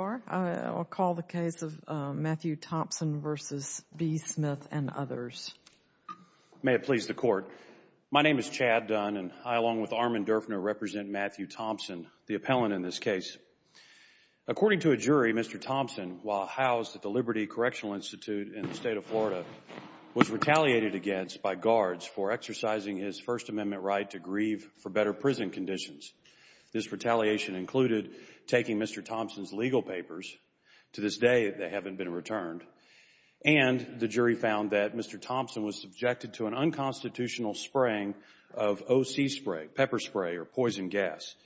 I'll call the case of Matthew Thompson v. B. Smith and others. May it please the court. My name is Chad Dunn and I, along with Armand Durfner, represent Matthew Thompson, the appellant in this case. According to a jury, Mr. Thompson, while housed at the Liberty Correctional Institute in the state of Florida, was retaliated against by guards for exercising his First Amendment right to grieve for better prison conditions. This retaliation included taking Mr. Thompson's legal papers. To this day, they haven't been returned. And the jury found that Mr. Thompson was subjected to an unconstitutional spraying of O.C. spray, pepper spray or poison gas.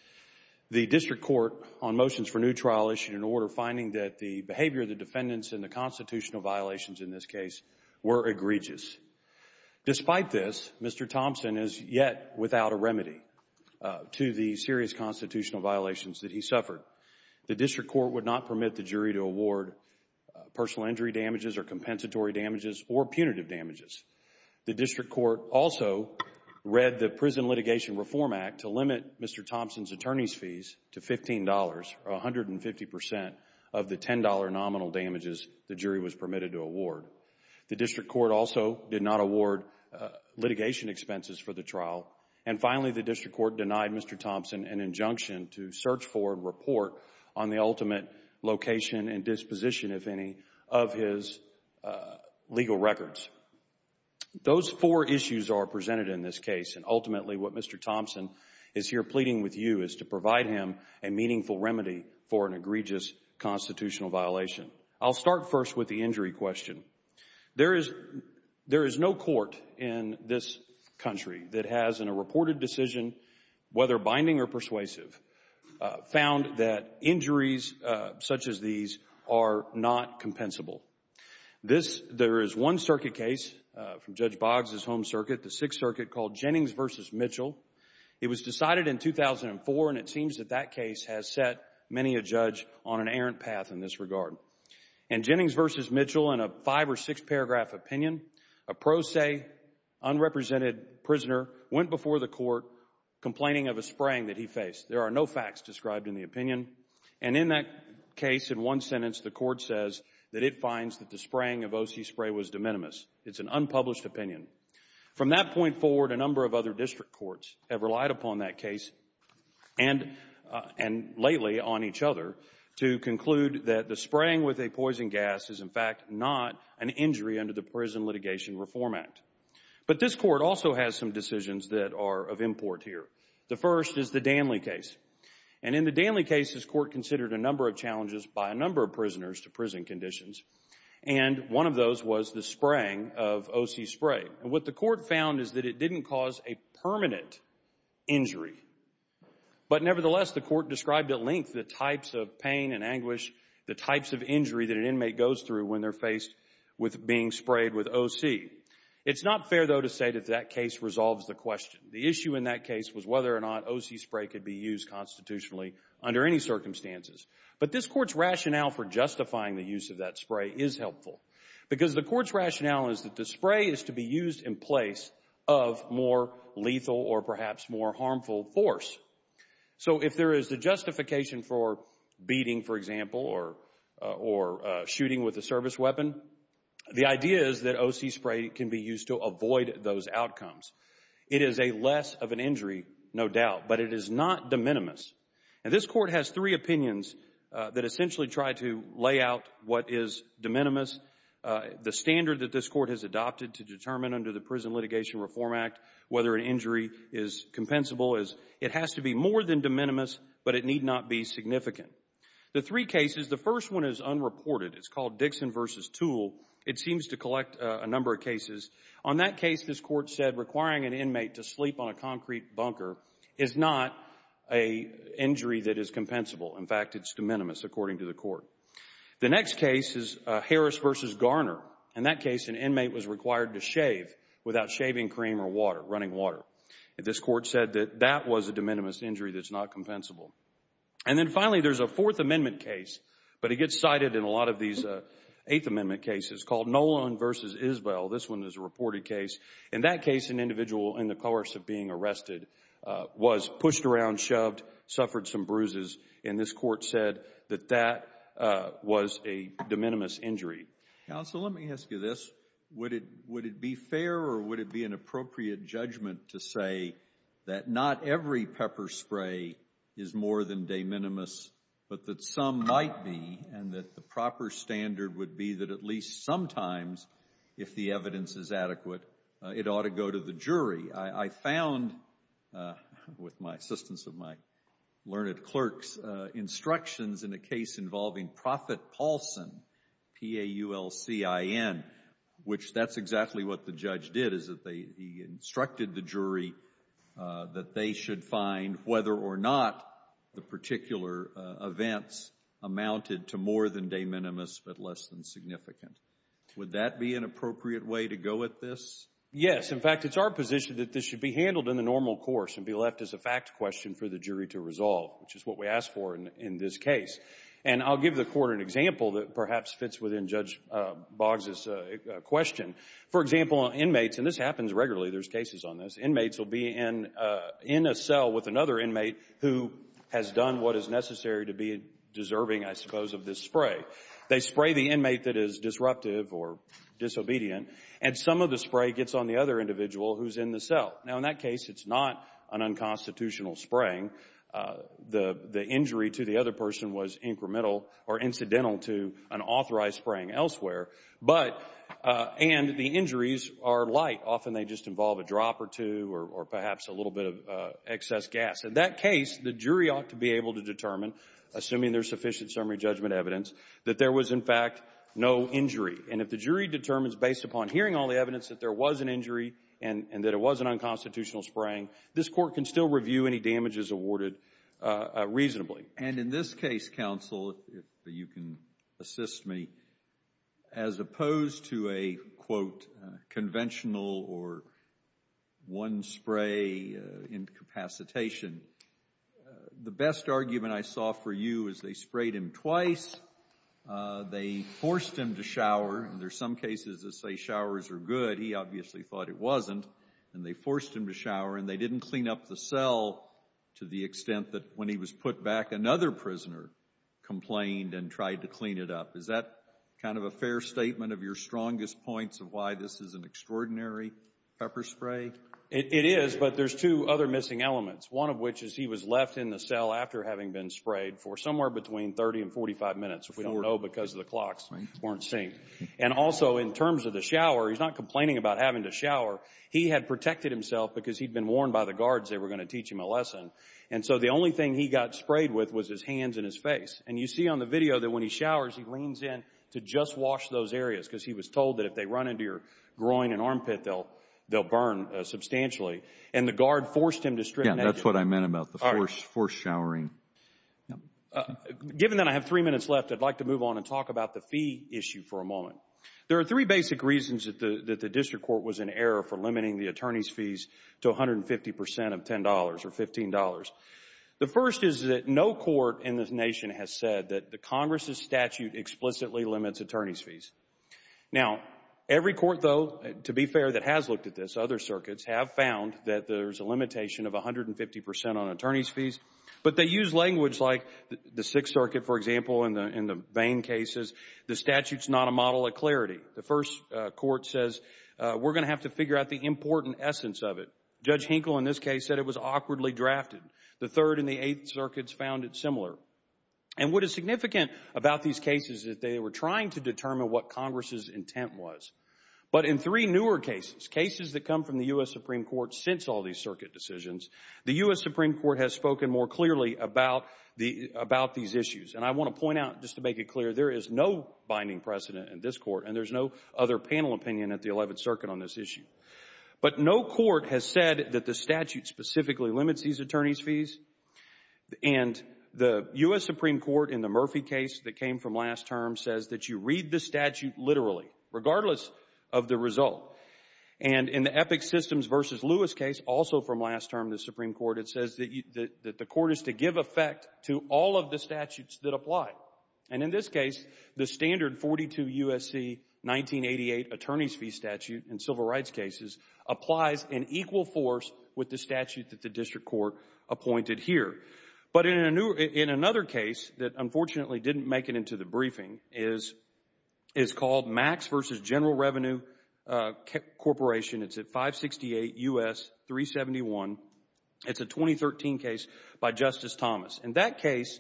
The district court on motions for new trial issued an order finding that the behavior of the defendants and the constitutional violations in this case were egregious. Despite this, Mr. Thompson is yet without a remedy to the serious constitutional violations that he suffered. The district court would not permit the jury to award personal injury damages or compensatory damages or punitive damages. The district court also read the Prison Litigation Reform Act to limit Mr. Thompson's attorney's fees to $15, or 150 percent of the $10 nominal damages the jury was permitted to award. The district court also did not award litigation expenses for the trial. And finally, the district court denied Mr. Thompson an injunction to search for and report on the ultimate location and disposition, if any, of his legal records. Those four issues are presented in this case, and ultimately what Mr. Thompson is here pleading with you is to provide him a meaningful remedy for an egregious constitutional violation. I'll start first with the injury question. There is no court in this country that has, in a reported decision, whether binding or persuasive, found that injuries such as these are not compensable. There is one circuit case from Judge Boggs' home circuit, the Sixth Circuit, called Jennings v. Mitchell. It was decided in 2004, and it seems that that case has set many a judge on an errant path in this regard. In Jennings v. Mitchell, in a five- or six-paragraph opinion, a pro se, unrepresented prisoner went before the court complaining of a spraying that he faced. There are no facts described in the opinion. And in that case, in one sentence, the court says that it finds that the spraying of O.C. spray was de minimis. It's an unpublished opinion. From that point forward, a number of other district courts have relied upon that case and lately on each other to conclude that the spraying with a poison gas is, in fact, not an injury under the Prison Litigation Reform Act. But this court also has some decisions that are of import here. The first is the Danley case. And in the Danley case, this court considered a number of challenges by a number of prisoners to prison conditions, and one of those was the spraying of O.C. spray. And what the court found is that it didn't cause a permanent injury. But nevertheless, the court described at length the types of pain and anguish, the types of injury that an inmate goes through when they're faced with being sprayed with O.C. It's not fair, though, to say that that case resolves the question. The issue in that case was whether or not O.C. spray could be used constitutionally under any circumstances. But this court's rationale for justifying the use of that spray is helpful. Because the court's rationale is that the spray is to be used in place of more lethal or perhaps more harmful force. So if there is a justification for beating, for example, or shooting with a service weapon, the idea is that O.C. spray can be used to avoid those outcomes. It is a less of an injury, no doubt, but it is not de minimis. And this court has three opinions that essentially try to lay out what is de minimis. The standard that this court has adopted to determine under the Prison Litigation Reform Act whether an injury is compensable is it has to be more than de minimis, but it need not be significant. The three cases, the first one is unreported. It's called Dixon v. Toole. It seems to collect a number of cases. On that case, this court said requiring an inmate to sleep on a concrete bunker is not a injury that is compensable. In fact, it's de minimis, according to the court. The next case is Harris v. Garner. In that case, an inmate was required to shave without shaving cream or water, running water. This court said that that was a de minimis injury that's not compensable. And then finally, there's a Fourth Amendment case, but it gets cited in a lot of these Eighth Amendment cases, called Nolan v. Isbell. This one is a reported case. In that case, an individual in the course of being arrested was pushed around, shoved, suffered some bruises, and this court said that that was a de minimis injury. Counsel, let me ask you this. Would it be fair or would it be an appropriate judgment to say that not every pepper spray is more than de minimis, but that some might be, and that the proper standard would be that at least sometimes, if the evidence is adequate, it ought to go to the jury? I found, with the assistance of my learned clerks, instructions in a case involving Profit Paulson, P-A-U-L-C-I-N, which that's exactly what the judge did, is that he instructed the jury that they should find whether or not the particular events amounted to more than de minimis, but less than significant. Would that be an appropriate way to go at this? Yes. In fact, it's our position that this should be handled in the normal course and be left as a fact question for the jury to resolve, which is what we asked for in this case. And I'll give the court an example that perhaps fits within Judge Boggs' question. For example, inmates, and this happens regularly, there's cases on this, inmates will be in a cell with another inmate who has done what is necessary to be deserving, I suppose, of this spray. They spray the inmate that is disruptive or disobedient, and some of the spray gets on the other individual who's in the cell. Now, in that case, it's not an unconstitutional spraying. The injury to the other person was incremental or incidental to an authorized spraying elsewhere, and the injuries are light. Often they just involve a drop or two or perhaps a little bit of excess gas. In that case, the jury ought to be able to determine, assuming there's sufficient summary judgment evidence, that there was, in fact, no injury. And if the jury determines, based upon hearing all the evidence, that there was an injury and that it was an unconstitutional spraying, this court can still review any damages awarded reasonably. And in this case, counsel, if you can assist me, as opposed to a, quote, conventional or one spray incapacitation, the best argument I saw for you is they sprayed him twice, they forced him to shower, and there's some cases that say showers are good. He obviously thought it wasn't, and they forced him to shower, and they didn't clean up the cell to the extent that when he was put back, another prisoner complained and tried to clean it up. Is that kind of a fair statement of your strongest points of why this is an extraordinary pepper spray? It is, but there's two other missing elements, one of which is he was left in the cell after having been sprayed for somewhere between 30 and 45 minutes, which we don't know because the clocks weren't synced. And also, in terms of the shower, he's not complaining about having to shower. He had protected himself because he'd been warned by the guards they were going to teach him a lesson. And so the only thing he got sprayed with was his hands and his face. And you see on the video that when he showers, he leans in to just wash those areas because he was told that if they run into your groin and armpit, they'll burn substantially. And the guard forced him to strip. Yeah, that's what I meant about the forced showering. Given that I have three minutes left, I'd like to move on and talk about the fee issue for a moment. There are three basic reasons that the district court was in error for limiting the attorney's fees to 150 percent of $10 or $15. The first is that no court in this nation has said that the Congress' statute explicitly limits attorney's fees. Now, every court, though, to be fair, that has looked at this, other circuits, have found that there's a limitation of 150 percent on attorney's fees. But they use language like the Sixth Circuit, for example, in the Vane cases, the statute's not a model of clarity. The first court says, we're going to have to figure out the important essence of it. Judge Hinkle, in this case, said it was awkwardly drafted. The Third and the Eighth Circuits found it similar. And what is significant about these cases is that they were trying to determine what Congress' intent was. But in three newer cases, cases that come from the U.S. Supreme Court since all these circuit decisions, the U.S. Supreme Court has spoken more clearly about these issues. And I want to point out, just to make it clear, there is no binding precedent in this court, and there's no other panel opinion at the Eleventh Circuit on this issue. But no court has said that the statute specifically limits these attorney's fees. And the U.S. Supreme Court, in the Murphy case that came from last term, says that you read the statute literally, regardless of the result. And in the Epic Systems v. Lewis case, also from last term, the Supreme Court, it says that the court is to give effect to all of the statutes that apply. And in this case, the standard 42 U.S.C. 1988 attorney's fee statute in civil rights cases applies in equal force with the statute that the district court appointed here. But in another case that unfortunately didn't make it into the briefing, is called Max v. General Revenue Corporation, it's at 568 U.S. 371, it's a 2013 case by Justice Thomas. In that case,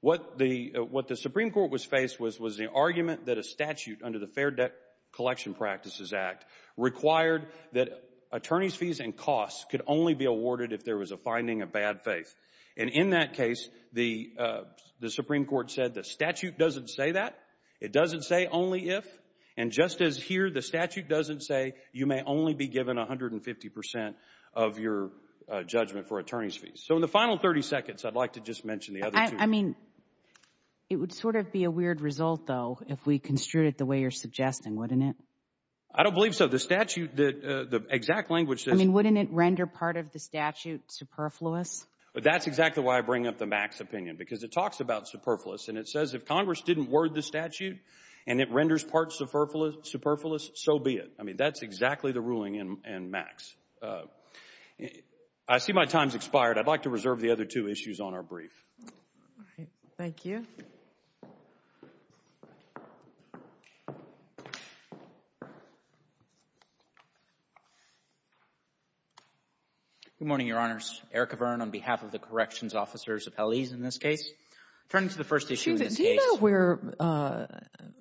what the Supreme Court was faced with was the argument that a statute under the Fair Debt Collection Practices Act required that attorney's fees and costs could only be awarded if there was a finding of bad faith. And in that case, the Supreme Court said the statute doesn't say that. It doesn't say only if. And just as here, the statute doesn't say you may only be given 150% of your judgment for attorney's fees. So in the final 30 seconds, I'd like to just mention the other two. I mean, it would sort of be a weird result, though, if we construed it the way you're suggesting, wouldn't it? I don't believe so. The statute, the exact language says... I mean, wouldn't it render part of the statute superfluous? That's exactly why I bring up the Max opinion, because it talks about superfluous, and it says if Congress didn't word the statute and it renders parts superfluous, so be it. I see my time's expired. I'd like to reserve the other two issues on our brief. All right. Thank you. Good morning, Your Honors. Eric Avern on behalf of the Corrections Officers of Hallease in this case. Turning to the first issue in this case... Do you know where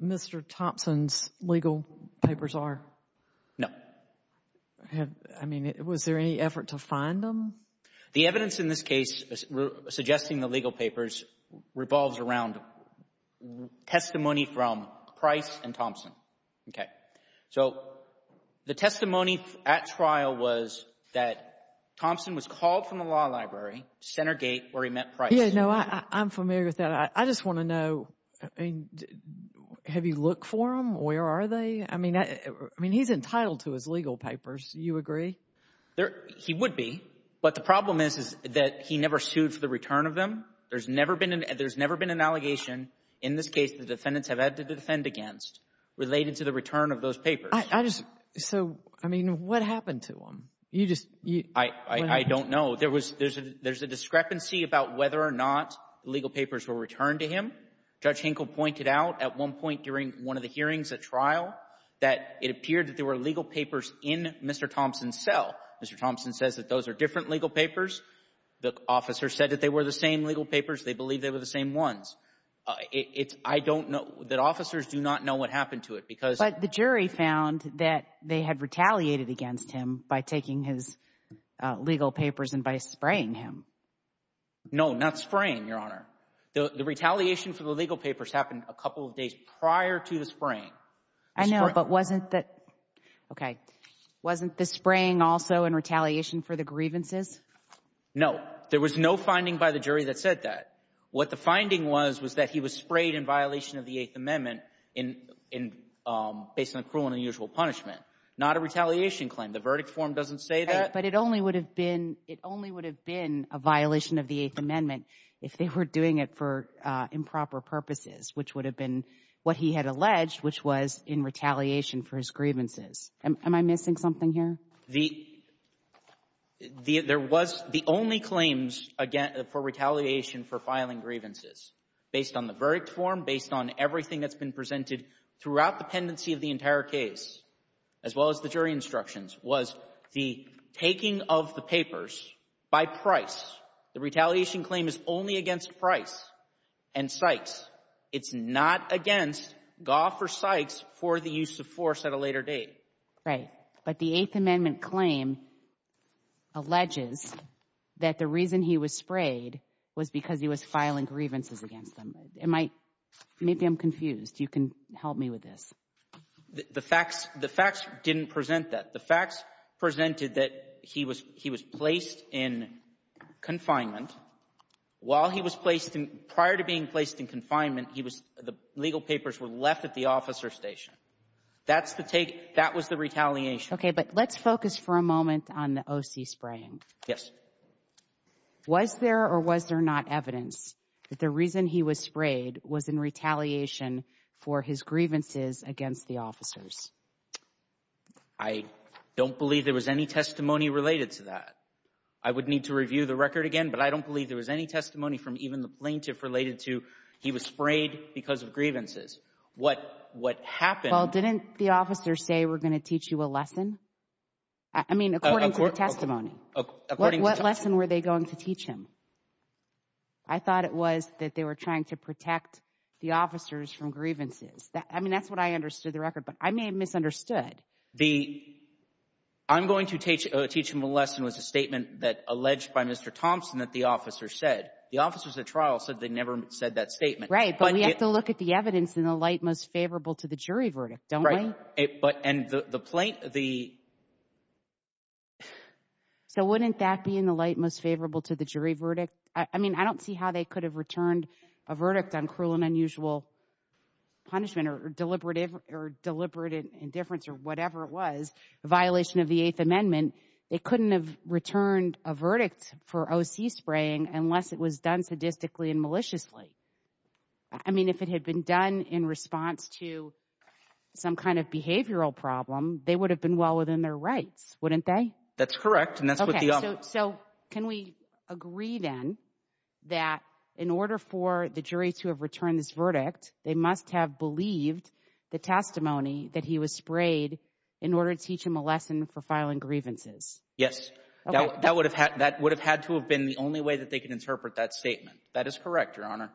Mr. Thompson's legal papers are? No. I mean, was there any effort to find them? The evidence in this case suggesting the legal papers revolves around testimony from Price and Thompson, okay? So the testimony at trial was that Thompson was called from the law library to Center Gate where he met Price. Yeah, no. I'm familiar with that. I just want to know, I mean, have you looked for them? Where are they? I mean, he's entitled to his legal papers. You agree? He would be, but the problem is that he never sued for the return of them. There's never been an allegation in this case the defendants have had to defend against related to the return of those papers. I just, so, I mean, what happened to them? You just... I don't know. There's a discrepancy about whether or not the legal papers were returned to him. Judge Hinkle pointed out at one point during one of the hearings at trial that it appeared that there were legal papers in Mr. Thompson's cell. Mr. Thompson says that those are different legal papers. The officer said that they were the same legal papers. They believe they were the same ones. I don't know, that officers do not know what happened to it because... But the jury found that they had retaliated against him by taking his legal papers and by spraying him. No, not spraying, Your Honor. The retaliation for the legal papers happened a couple of days prior to the spraying. I know, but wasn't that... Okay. Wasn't the spraying also in retaliation for the grievances? No. There was no finding by the jury that said that. What the finding was, was that he was sprayed in violation of the Eighth Amendment in, based on cruel and unusual punishment. Not a retaliation claim. The verdict form doesn't say that. But it only would have been, it only would have been a violation of the Eighth Amendment if they were doing it for improper purposes, which would have been what he had alleged, which was in retaliation for his grievances. Am I missing something here? There was... The only claims for retaliation for filing grievances, based on the verdict form, based on everything that's been presented throughout the pendency of the entire case, as well as the jury instructions, was the taking of the papers by price. The retaliation claim is only against price and cites. It's not against Gough or Sykes for the use of force at a later date. Right. But the Eighth Amendment claim alleges that the reason he was sprayed was because he was filing grievances against them. Am I... Maybe I'm confused. You can help me with this. The facts, the facts didn't present that. The facts presented that he was, he was placed in confinement. While he was placed in, prior to being placed in confinement, he was, the legal papers were left at the officer station. That's the take. That was the retaliation. Okay. But let's focus for a moment on the O.C. spraying. Yes. Was there or was there not evidence that the reason he was sprayed was in retaliation for his grievances against the officers? I don't believe there was any testimony related to that. I would need to review the record again, but I don't believe there was any testimony from even the plaintiff related to he was sprayed because of grievances. What happened... Well, didn't the officers say, we're going to teach you a lesson? I mean, according to the testimony, what lesson were they going to teach him? I thought it was that they were trying to protect the officers from grievances. I mean, that's what I understood the record, but I may have misunderstood. Good. The, I'm going to teach him a lesson was a statement that alleged by Mr. Thompson that the officer said. The officers at trial said they never said that statement. Right. But we have to look at the evidence in the light most favorable to the jury verdict, don't we? Right. But, and the plaintiff, the... So wouldn't that be in the light most favorable to the jury verdict? I mean, I don't see how they could have returned a verdict on cruel and unusual punishment or deliberative or deliberate indifference or whatever it was, a violation of the Eighth Amendment. They couldn't have returned a verdict for OC spraying unless it was done sadistically and maliciously. I mean, if it had been done in response to some kind of behavioral problem, they would have been well within their rights, wouldn't they? That's correct. And that's what the... So can we agree then that in order for the jury to have returned this verdict, they must have believed the testimony that he was sprayed in order to teach him a lesson for filing grievances? Yes. Okay. That would have had to have been the only way that they could interpret that statement. That is correct, Your Honor.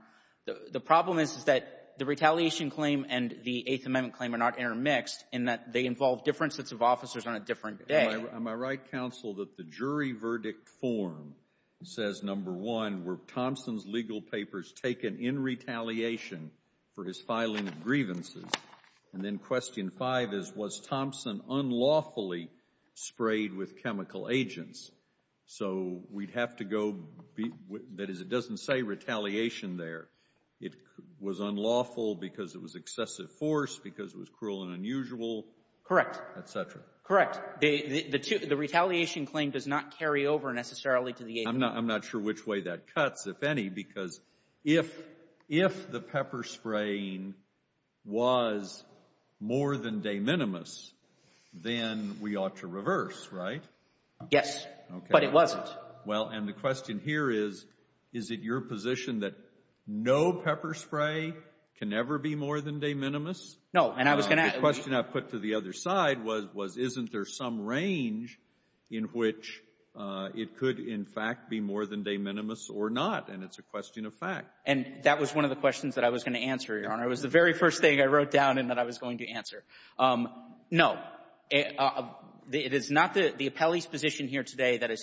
The problem is that the retaliation claim and the Eighth Amendment claim are not intermixed in that they involve different sets of officers on a different day. Am I right, counsel, that the jury verdict form says, number one, were Thompson's legal papers taken in retaliation for his filing of grievances, and then question five is, was Thompson unlawfully sprayed with chemical agents? So we'd have to go, that is, it doesn't say retaliation there. It was unlawful because it was excessive force, because it was cruel and unusual, et cetera. Correct. Correct. I'm not sure which way that cuts, if any, because if the pepper spraying was more than de minimis, then we ought to reverse, right? Yes, but it wasn't. Well, and the question here is, is it your position that no pepper spray can ever be more than de minimis? No, and I was going to ask— The question I put to the other side was, isn't there some range in which it could, in fact, be more than de minimis or not, and it's a question of fact. And that was one of the questions that I was going to answer, Your Honor. It was the very first thing I wrote down and that I was going to answer. No, it is not the appellee's position here today that a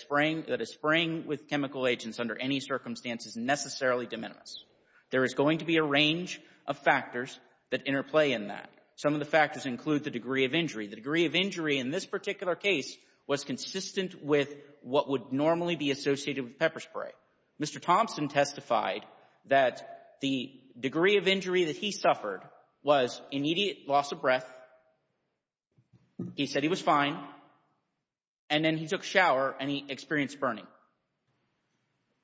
spraying with chemical agents under any circumstance is necessarily de minimis. There is going to be a range of factors that interplay in that. Some of the factors include the degree of injury. The degree of injury in this particular case was consistent with what would normally be associated with pepper spray. Mr. Thompson testified that the degree of injury that he suffered was immediate loss of breath, he said he was fine, and then he took a shower and he experienced burning.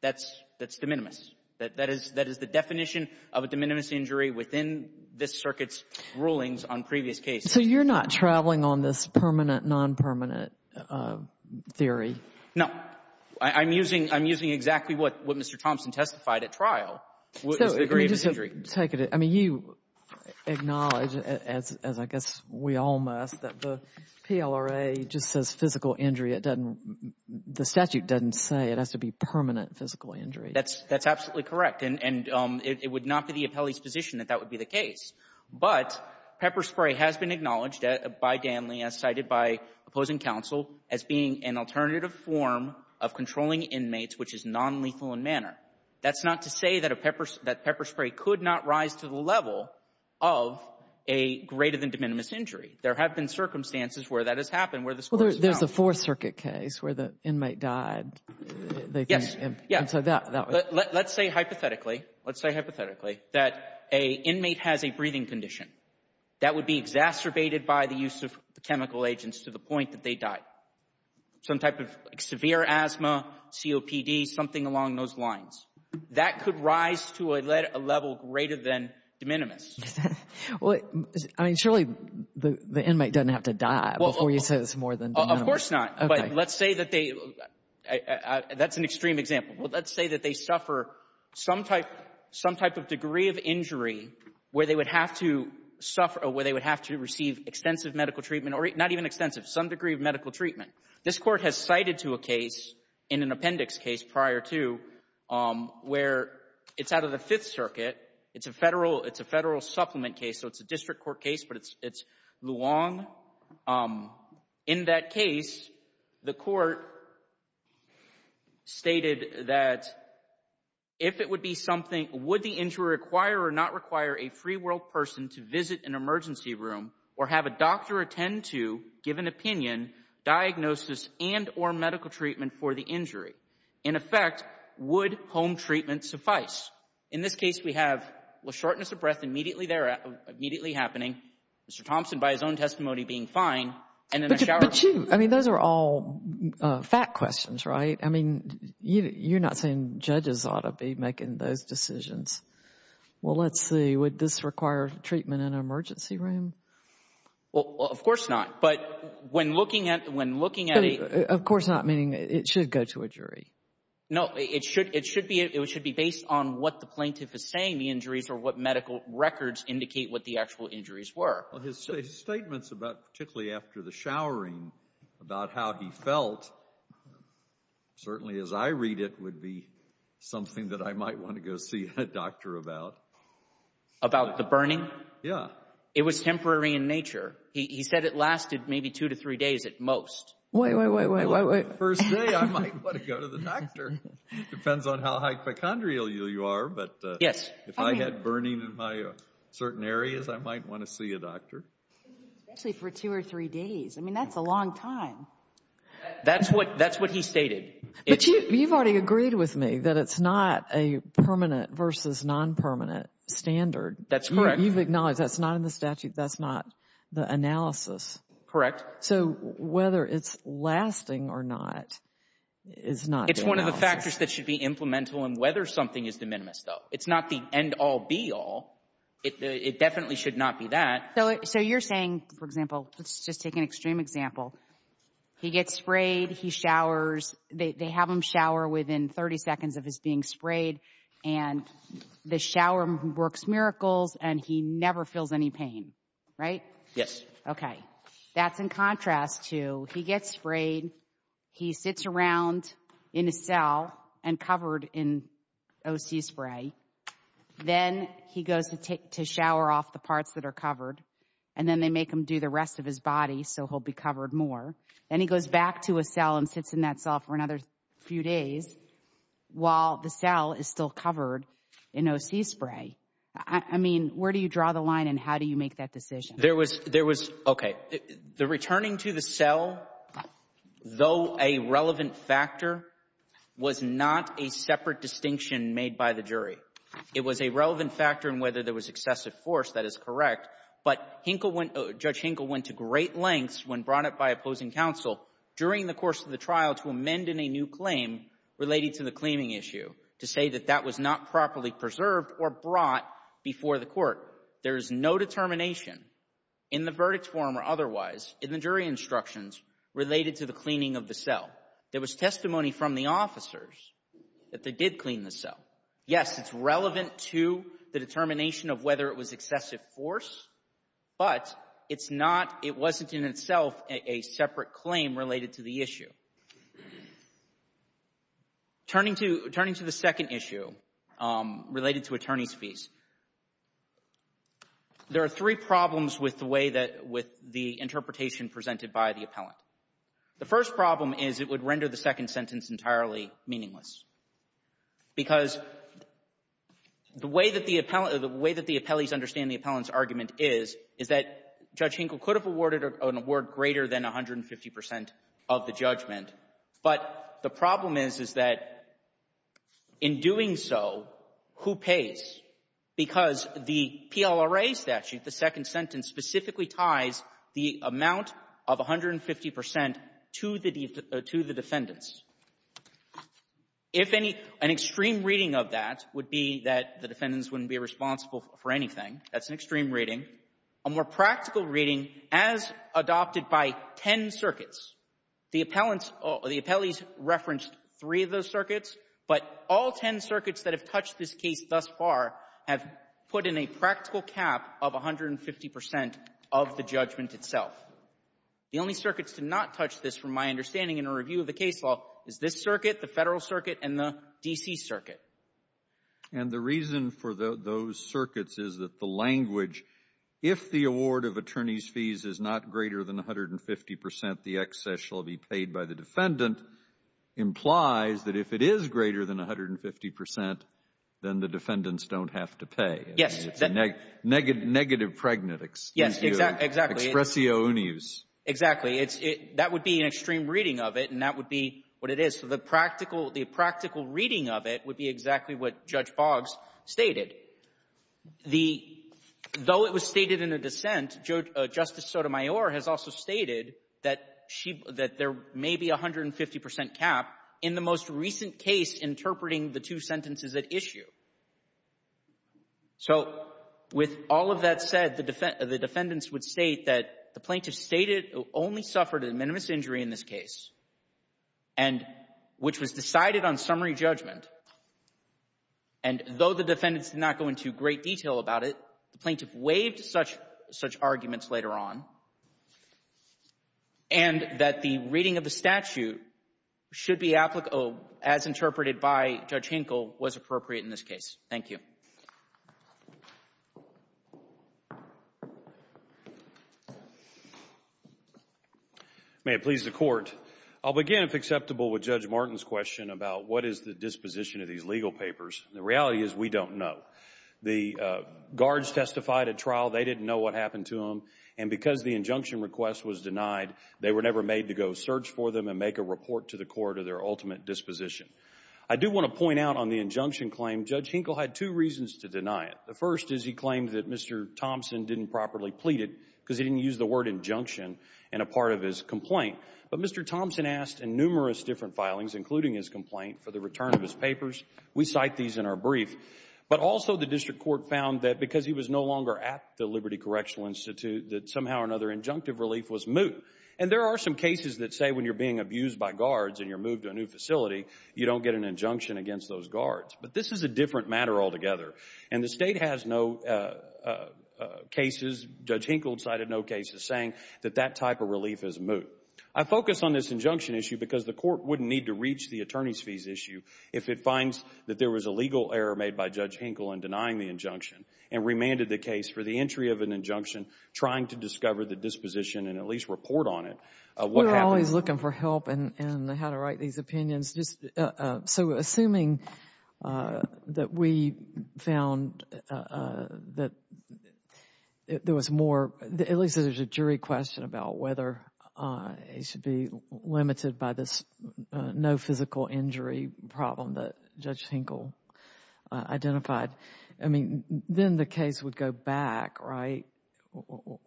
That's de minimis. That is the definition of a de minimis injury within this Circuit's rulings on previous cases. So you're not traveling on this permanent, non-permanent theory? No. I'm using exactly what Mr. Thompson testified at trial was the degree of injury. You acknowledge, as I guess we all must, that the PLRA just says physical injury. The statute doesn't say it has to be permanent physical injury. That's absolutely correct, and it would not be the appellee's position that that would be the case. But pepper spray has been acknowledged by Danley, as cited by opposing counsel, as being an alternative form of controlling inmates, which is nonlethal in manner. That's not to say that pepper spray could not rise to the level of a greater-than-de minimis injury. There have been circumstances where that has happened, where the score is down. Well, there's a Fourth Circuit case where the inmate died. Yes. Yes. And so that would be the case. Let's say hypothetically, let's say hypothetically that an inmate has a breathing condition that would be exacerbated by the use of chemical agents to the point that they died. Some type of severe asthma, COPD, something along those lines. That could rise to a level greater-than-de minimis. Well, I mean, surely the inmate doesn't have to die before you say this is more than de minimis. Of course not. But let's say that they, that's an extreme example. Let's say that they suffer some type, some type of degree of injury where they would have to suffer or where they would have to receive extensive medical treatment or not even extensive, some degree of medical treatment. This Court has cited to a case in an appendix case prior to where it's out of the Fifth Circuit. It's a Federal, it's a Federal supplement case. So it's a district court case, but it's Luong. In that case, the Court stated that if it would be something, would the injury require or not require a free world person to visit an emergency room or have a doctor attend to give an opinion, diagnosis and or medical treatment for the injury? In effect, would home treatment suffice? In this case, we have shortness of breath immediately there, immediately happening. Mr. Thompson, by his own testimony, being fine, and then a shower. But you, I mean, those are all fact questions, right? I mean, you're not saying judges ought to be making those decisions. Well, let's see. Would this require treatment in an emergency room? Of course not. But when looking at, when looking at a. Of course not, meaning it should go to a jury. No, it should, it should be, it should be based on what the plaintiff is saying the injuries were. Well, his statements about, particularly after the showering, about how he felt, certainly as I read it, would be something that I might want to go see a doctor about. About the burning? Yeah. It was temporary in nature. He said it lasted maybe two to three days at most. Wait, wait, wait, wait, wait, wait. First day, I might want to go to the doctor. Depends on how hypochondrial you are, but if I had burning in my certain areas, I might want to see a doctor. Especially for two or three days, I mean, that's a long time. That's what, that's what he stated. But you've already agreed with me that it's not a permanent versus non-permanent standard. That's correct. You've acknowledged that's not in the statute, that's not the analysis. Correct. So whether it's lasting or not is not. It's one of the factors that should be implementable and whether something is de minimis, though. It's not the end all, be all. It definitely should not be that. So you're saying, for example, let's just take an extreme example. He gets sprayed, he showers, they have him shower within 30 seconds of his being sprayed and the shower works miracles and he never feels any pain, right? Yes. Okay. That's in contrast to he gets sprayed, he sits around in a cell and covered in OC spray. Then he goes to take, to shower off the parts that are covered and then they make him do the rest of his body so he'll be covered more. Then he goes back to a cell and sits in that cell for another few days while the cell is still covered in OC spray. I mean, where do you draw the line and how do you make that decision? There was, there was, okay. The returning to the cell, though a relevant factor, was not a separate distinction made by the jury. It was a relevant factor in whether there was excessive force, that is correct. But Hinkle went, Judge Hinkle went to great lengths when brought up by opposing counsel during the course of the trial to amend in a new claim related to the cleaning issue to say that that was not properly preserved or brought before the court. There is no determination in the verdict form or otherwise in the jury instructions related to the cleaning of the cell. There was testimony from the officers that they did clean the cell. Yes, it's relevant to the determination of whether it was excessive force, but it's not, it wasn't in itself a separate claim related to the issue. Turning to, turning to the second issue related to attorney's fees. There are three problems with the way that, with the interpretation presented by the appellant. The first problem is it would render the second sentence entirely meaningless. Because the way that the appellant, the way that the appellees understand the appellant's argument is, is that Judge Hinkle could have awarded an award greater than 150 percent of the judgment. But the problem is, is that in doing so, who pays? Because the PLRA statute, the second sentence, specifically ties the amount of 150 percent to the defendants. If any, an extreme reading of that would be that the defendants wouldn't be responsible for anything. That's an extreme reading. A more practical reading, as adopted by ten circuits, the appellants or the appellees referenced three of those circuits, but all ten circuits that have touched this case thus far have put in a practical cap of 150 percent of the judgment itself. The only circuits to not touch this, from my understanding in a review of the case law, is this circuit, the Federal Circuit, and the D.C. Circuit. And the reason for those circuits is that the language, if the award of attorney's fees is not greater than 150 percent, the excess shall be paid by the defendant, implies that if it is greater than 150 percent, then the defendants don't have to pay. Yes. It's a negative pregnant excuse. Yes, exactly. Expresio uneus. Exactly. That would be an extreme reading of it, and that would be what it is. So the practical reading of it would be exactly what Judge Boggs stated. Though it was stated in a dissent, Justice Sotomayor has also stated that there may be a 150 percent cap in the most recent case interpreting the two sentences at issue. So with all of that said, the defendants would state that the plaintiff stated only suffered a minimus injury in this case, and which was decided on summary judgment. And though the defendants did not go into great detail about it, the plaintiff waived such arguments later on, and that the reading of the statute should be, as interpreted by Judge Hinkle, was appropriate in this case. Thank you. May it please the Court. I'll begin, if acceptable, with Judge Martin's question about what is the disposition of these legal papers. The reality is we don't know. The guards testified at trial. They didn't know what happened to them. And because the injunction request was denied, they were never made to go search for them and make a report to the court of their ultimate disposition. I do want to point out on the injunction claim, Judge Hinkle had two reasons to deny it. The first is he claimed that Mr. Thompson didn't properly plead it because he didn't use the word injunction in a part of his complaint. But Mr. Thompson asked in numerous different filings, including his complaint, for the return of his papers. We cite these in our brief. But also the district court found that because he was no longer at the Liberty Correctional Institute, that somehow or another injunctive relief was moot. And there are some cases that say when you're being abused by guards and you're moved to a new facility, you don't get an injunction against those guards. But this is a different matter altogether. And the State has no cases, Judge Hinkle cited no cases, saying that that type of relief is moot. I focus on this injunction issue because the court wouldn't need to reach the attorney's issue if it finds that there was a legal error made by Judge Hinkle in denying the injunction and remanded the case for the entry of an injunction, trying to discover the disposition and at least report on it. We're always looking for help in how to write these opinions. So assuming that we found that there was more, at least there's a jury question about whether it should be limited by this no physical injury problem that Judge Hinkle identified. I mean, then the case would go back, right?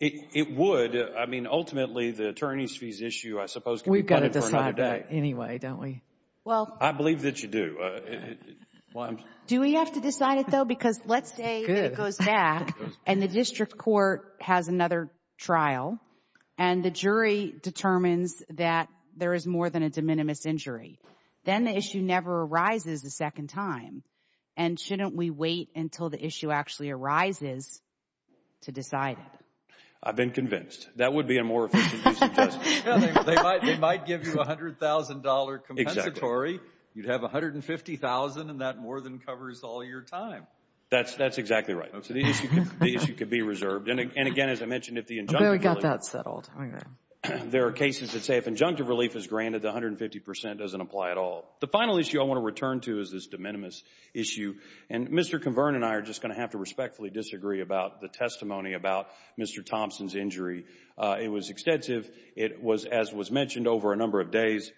It would. I mean, ultimately, the attorney's fees issue, I suppose, can be butted for another day. We've got to decide that anyway, don't we? Well. I believe that you do. Do we have to decide it though? If the attorney determines that there is more than a de minimis injury, then the issue never arises a second time. And shouldn't we wait until the issue actually arises to decide it? I've been convinced. That would be a more efficient use of judgment. They might give you a $100,000 compensatory. You'd have $150,000 and that more than covers all your time. That's exactly right. So the issue could be reserved. And again, as I mentioned, if the injunction. We got that settled. There are cases that say if injunctive relief is granted, the 150% doesn't apply at all. The final issue I want to return to is this de minimis issue. And Mr. Cavern and I are just going to have to respectfully disagree about the testimony about Mr. Thompson's injury. It was extensive. It was, as was mentioned, over a number of days.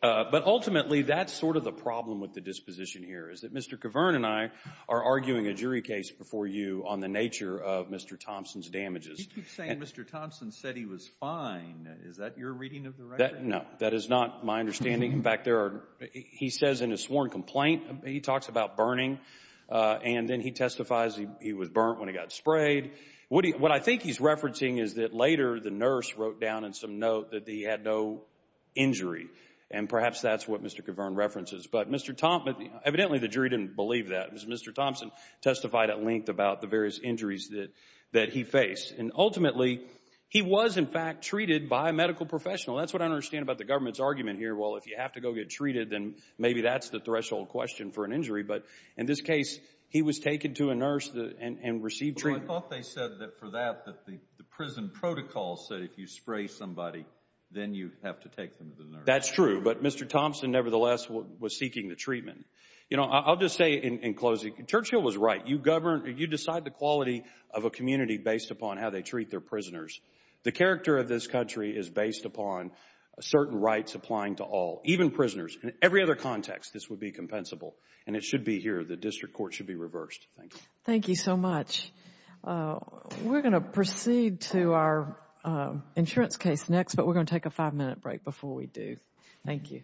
But ultimately, that's sort of the problem with the disposition here is that Mr. Cavern and I are arguing a jury case before you on the nature of Mr. Thompson's damages. You keep saying Mr. Thompson said he was fine. Is that your reading of the record? No, that is not my understanding. In fact, he says in his sworn complaint, he talks about burning. And then he testifies he was burnt when he got sprayed. What I think he's referencing is that later the nurse wrote down in some note that he had no injury. And perhaps that's what Mr. Cavern references. But Mr. Thompson, evidently the jury didn't believe that. Mr. Thompson testified at length about the various injuries that he faced. And ultimately, he was, in fact, treated by a medical professional. That's what I understand about the government's argument here. Well, if you have to go get treated, then maybe that's the threshold question for an injury. But in this case, he was taken to a nurse and received treatment. Well, I thought they said that for that, that the prison protocol said if you spray somebody, then you have to take them to the nurse. That's true. But Mr. Thompson, nevertheless, was seeking the treatment. You know, I'll just say in closing, Churchill was right. You decide the quality of a community based upon how they treat their prisoners. The character of this country is based upon certain rights applying to all, even prisoners. In every other context, this would be compensable. And it should be here. The district court should be reversed. Thank you. Thank you so much. We're going to proceed to our insurance case next. But we're going to take a five-minute break before we do. Thank you.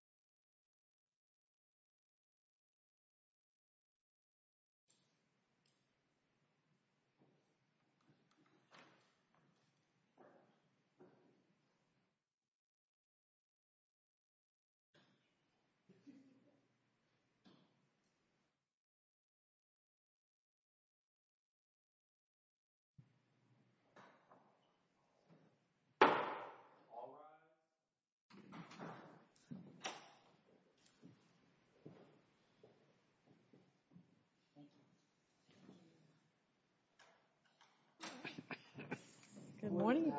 Thank you. Thank you. Thank you. Thank you. Thank you. Thank you. Thank you. Thank you. Thank you. Good morning.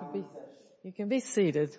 You can be seated.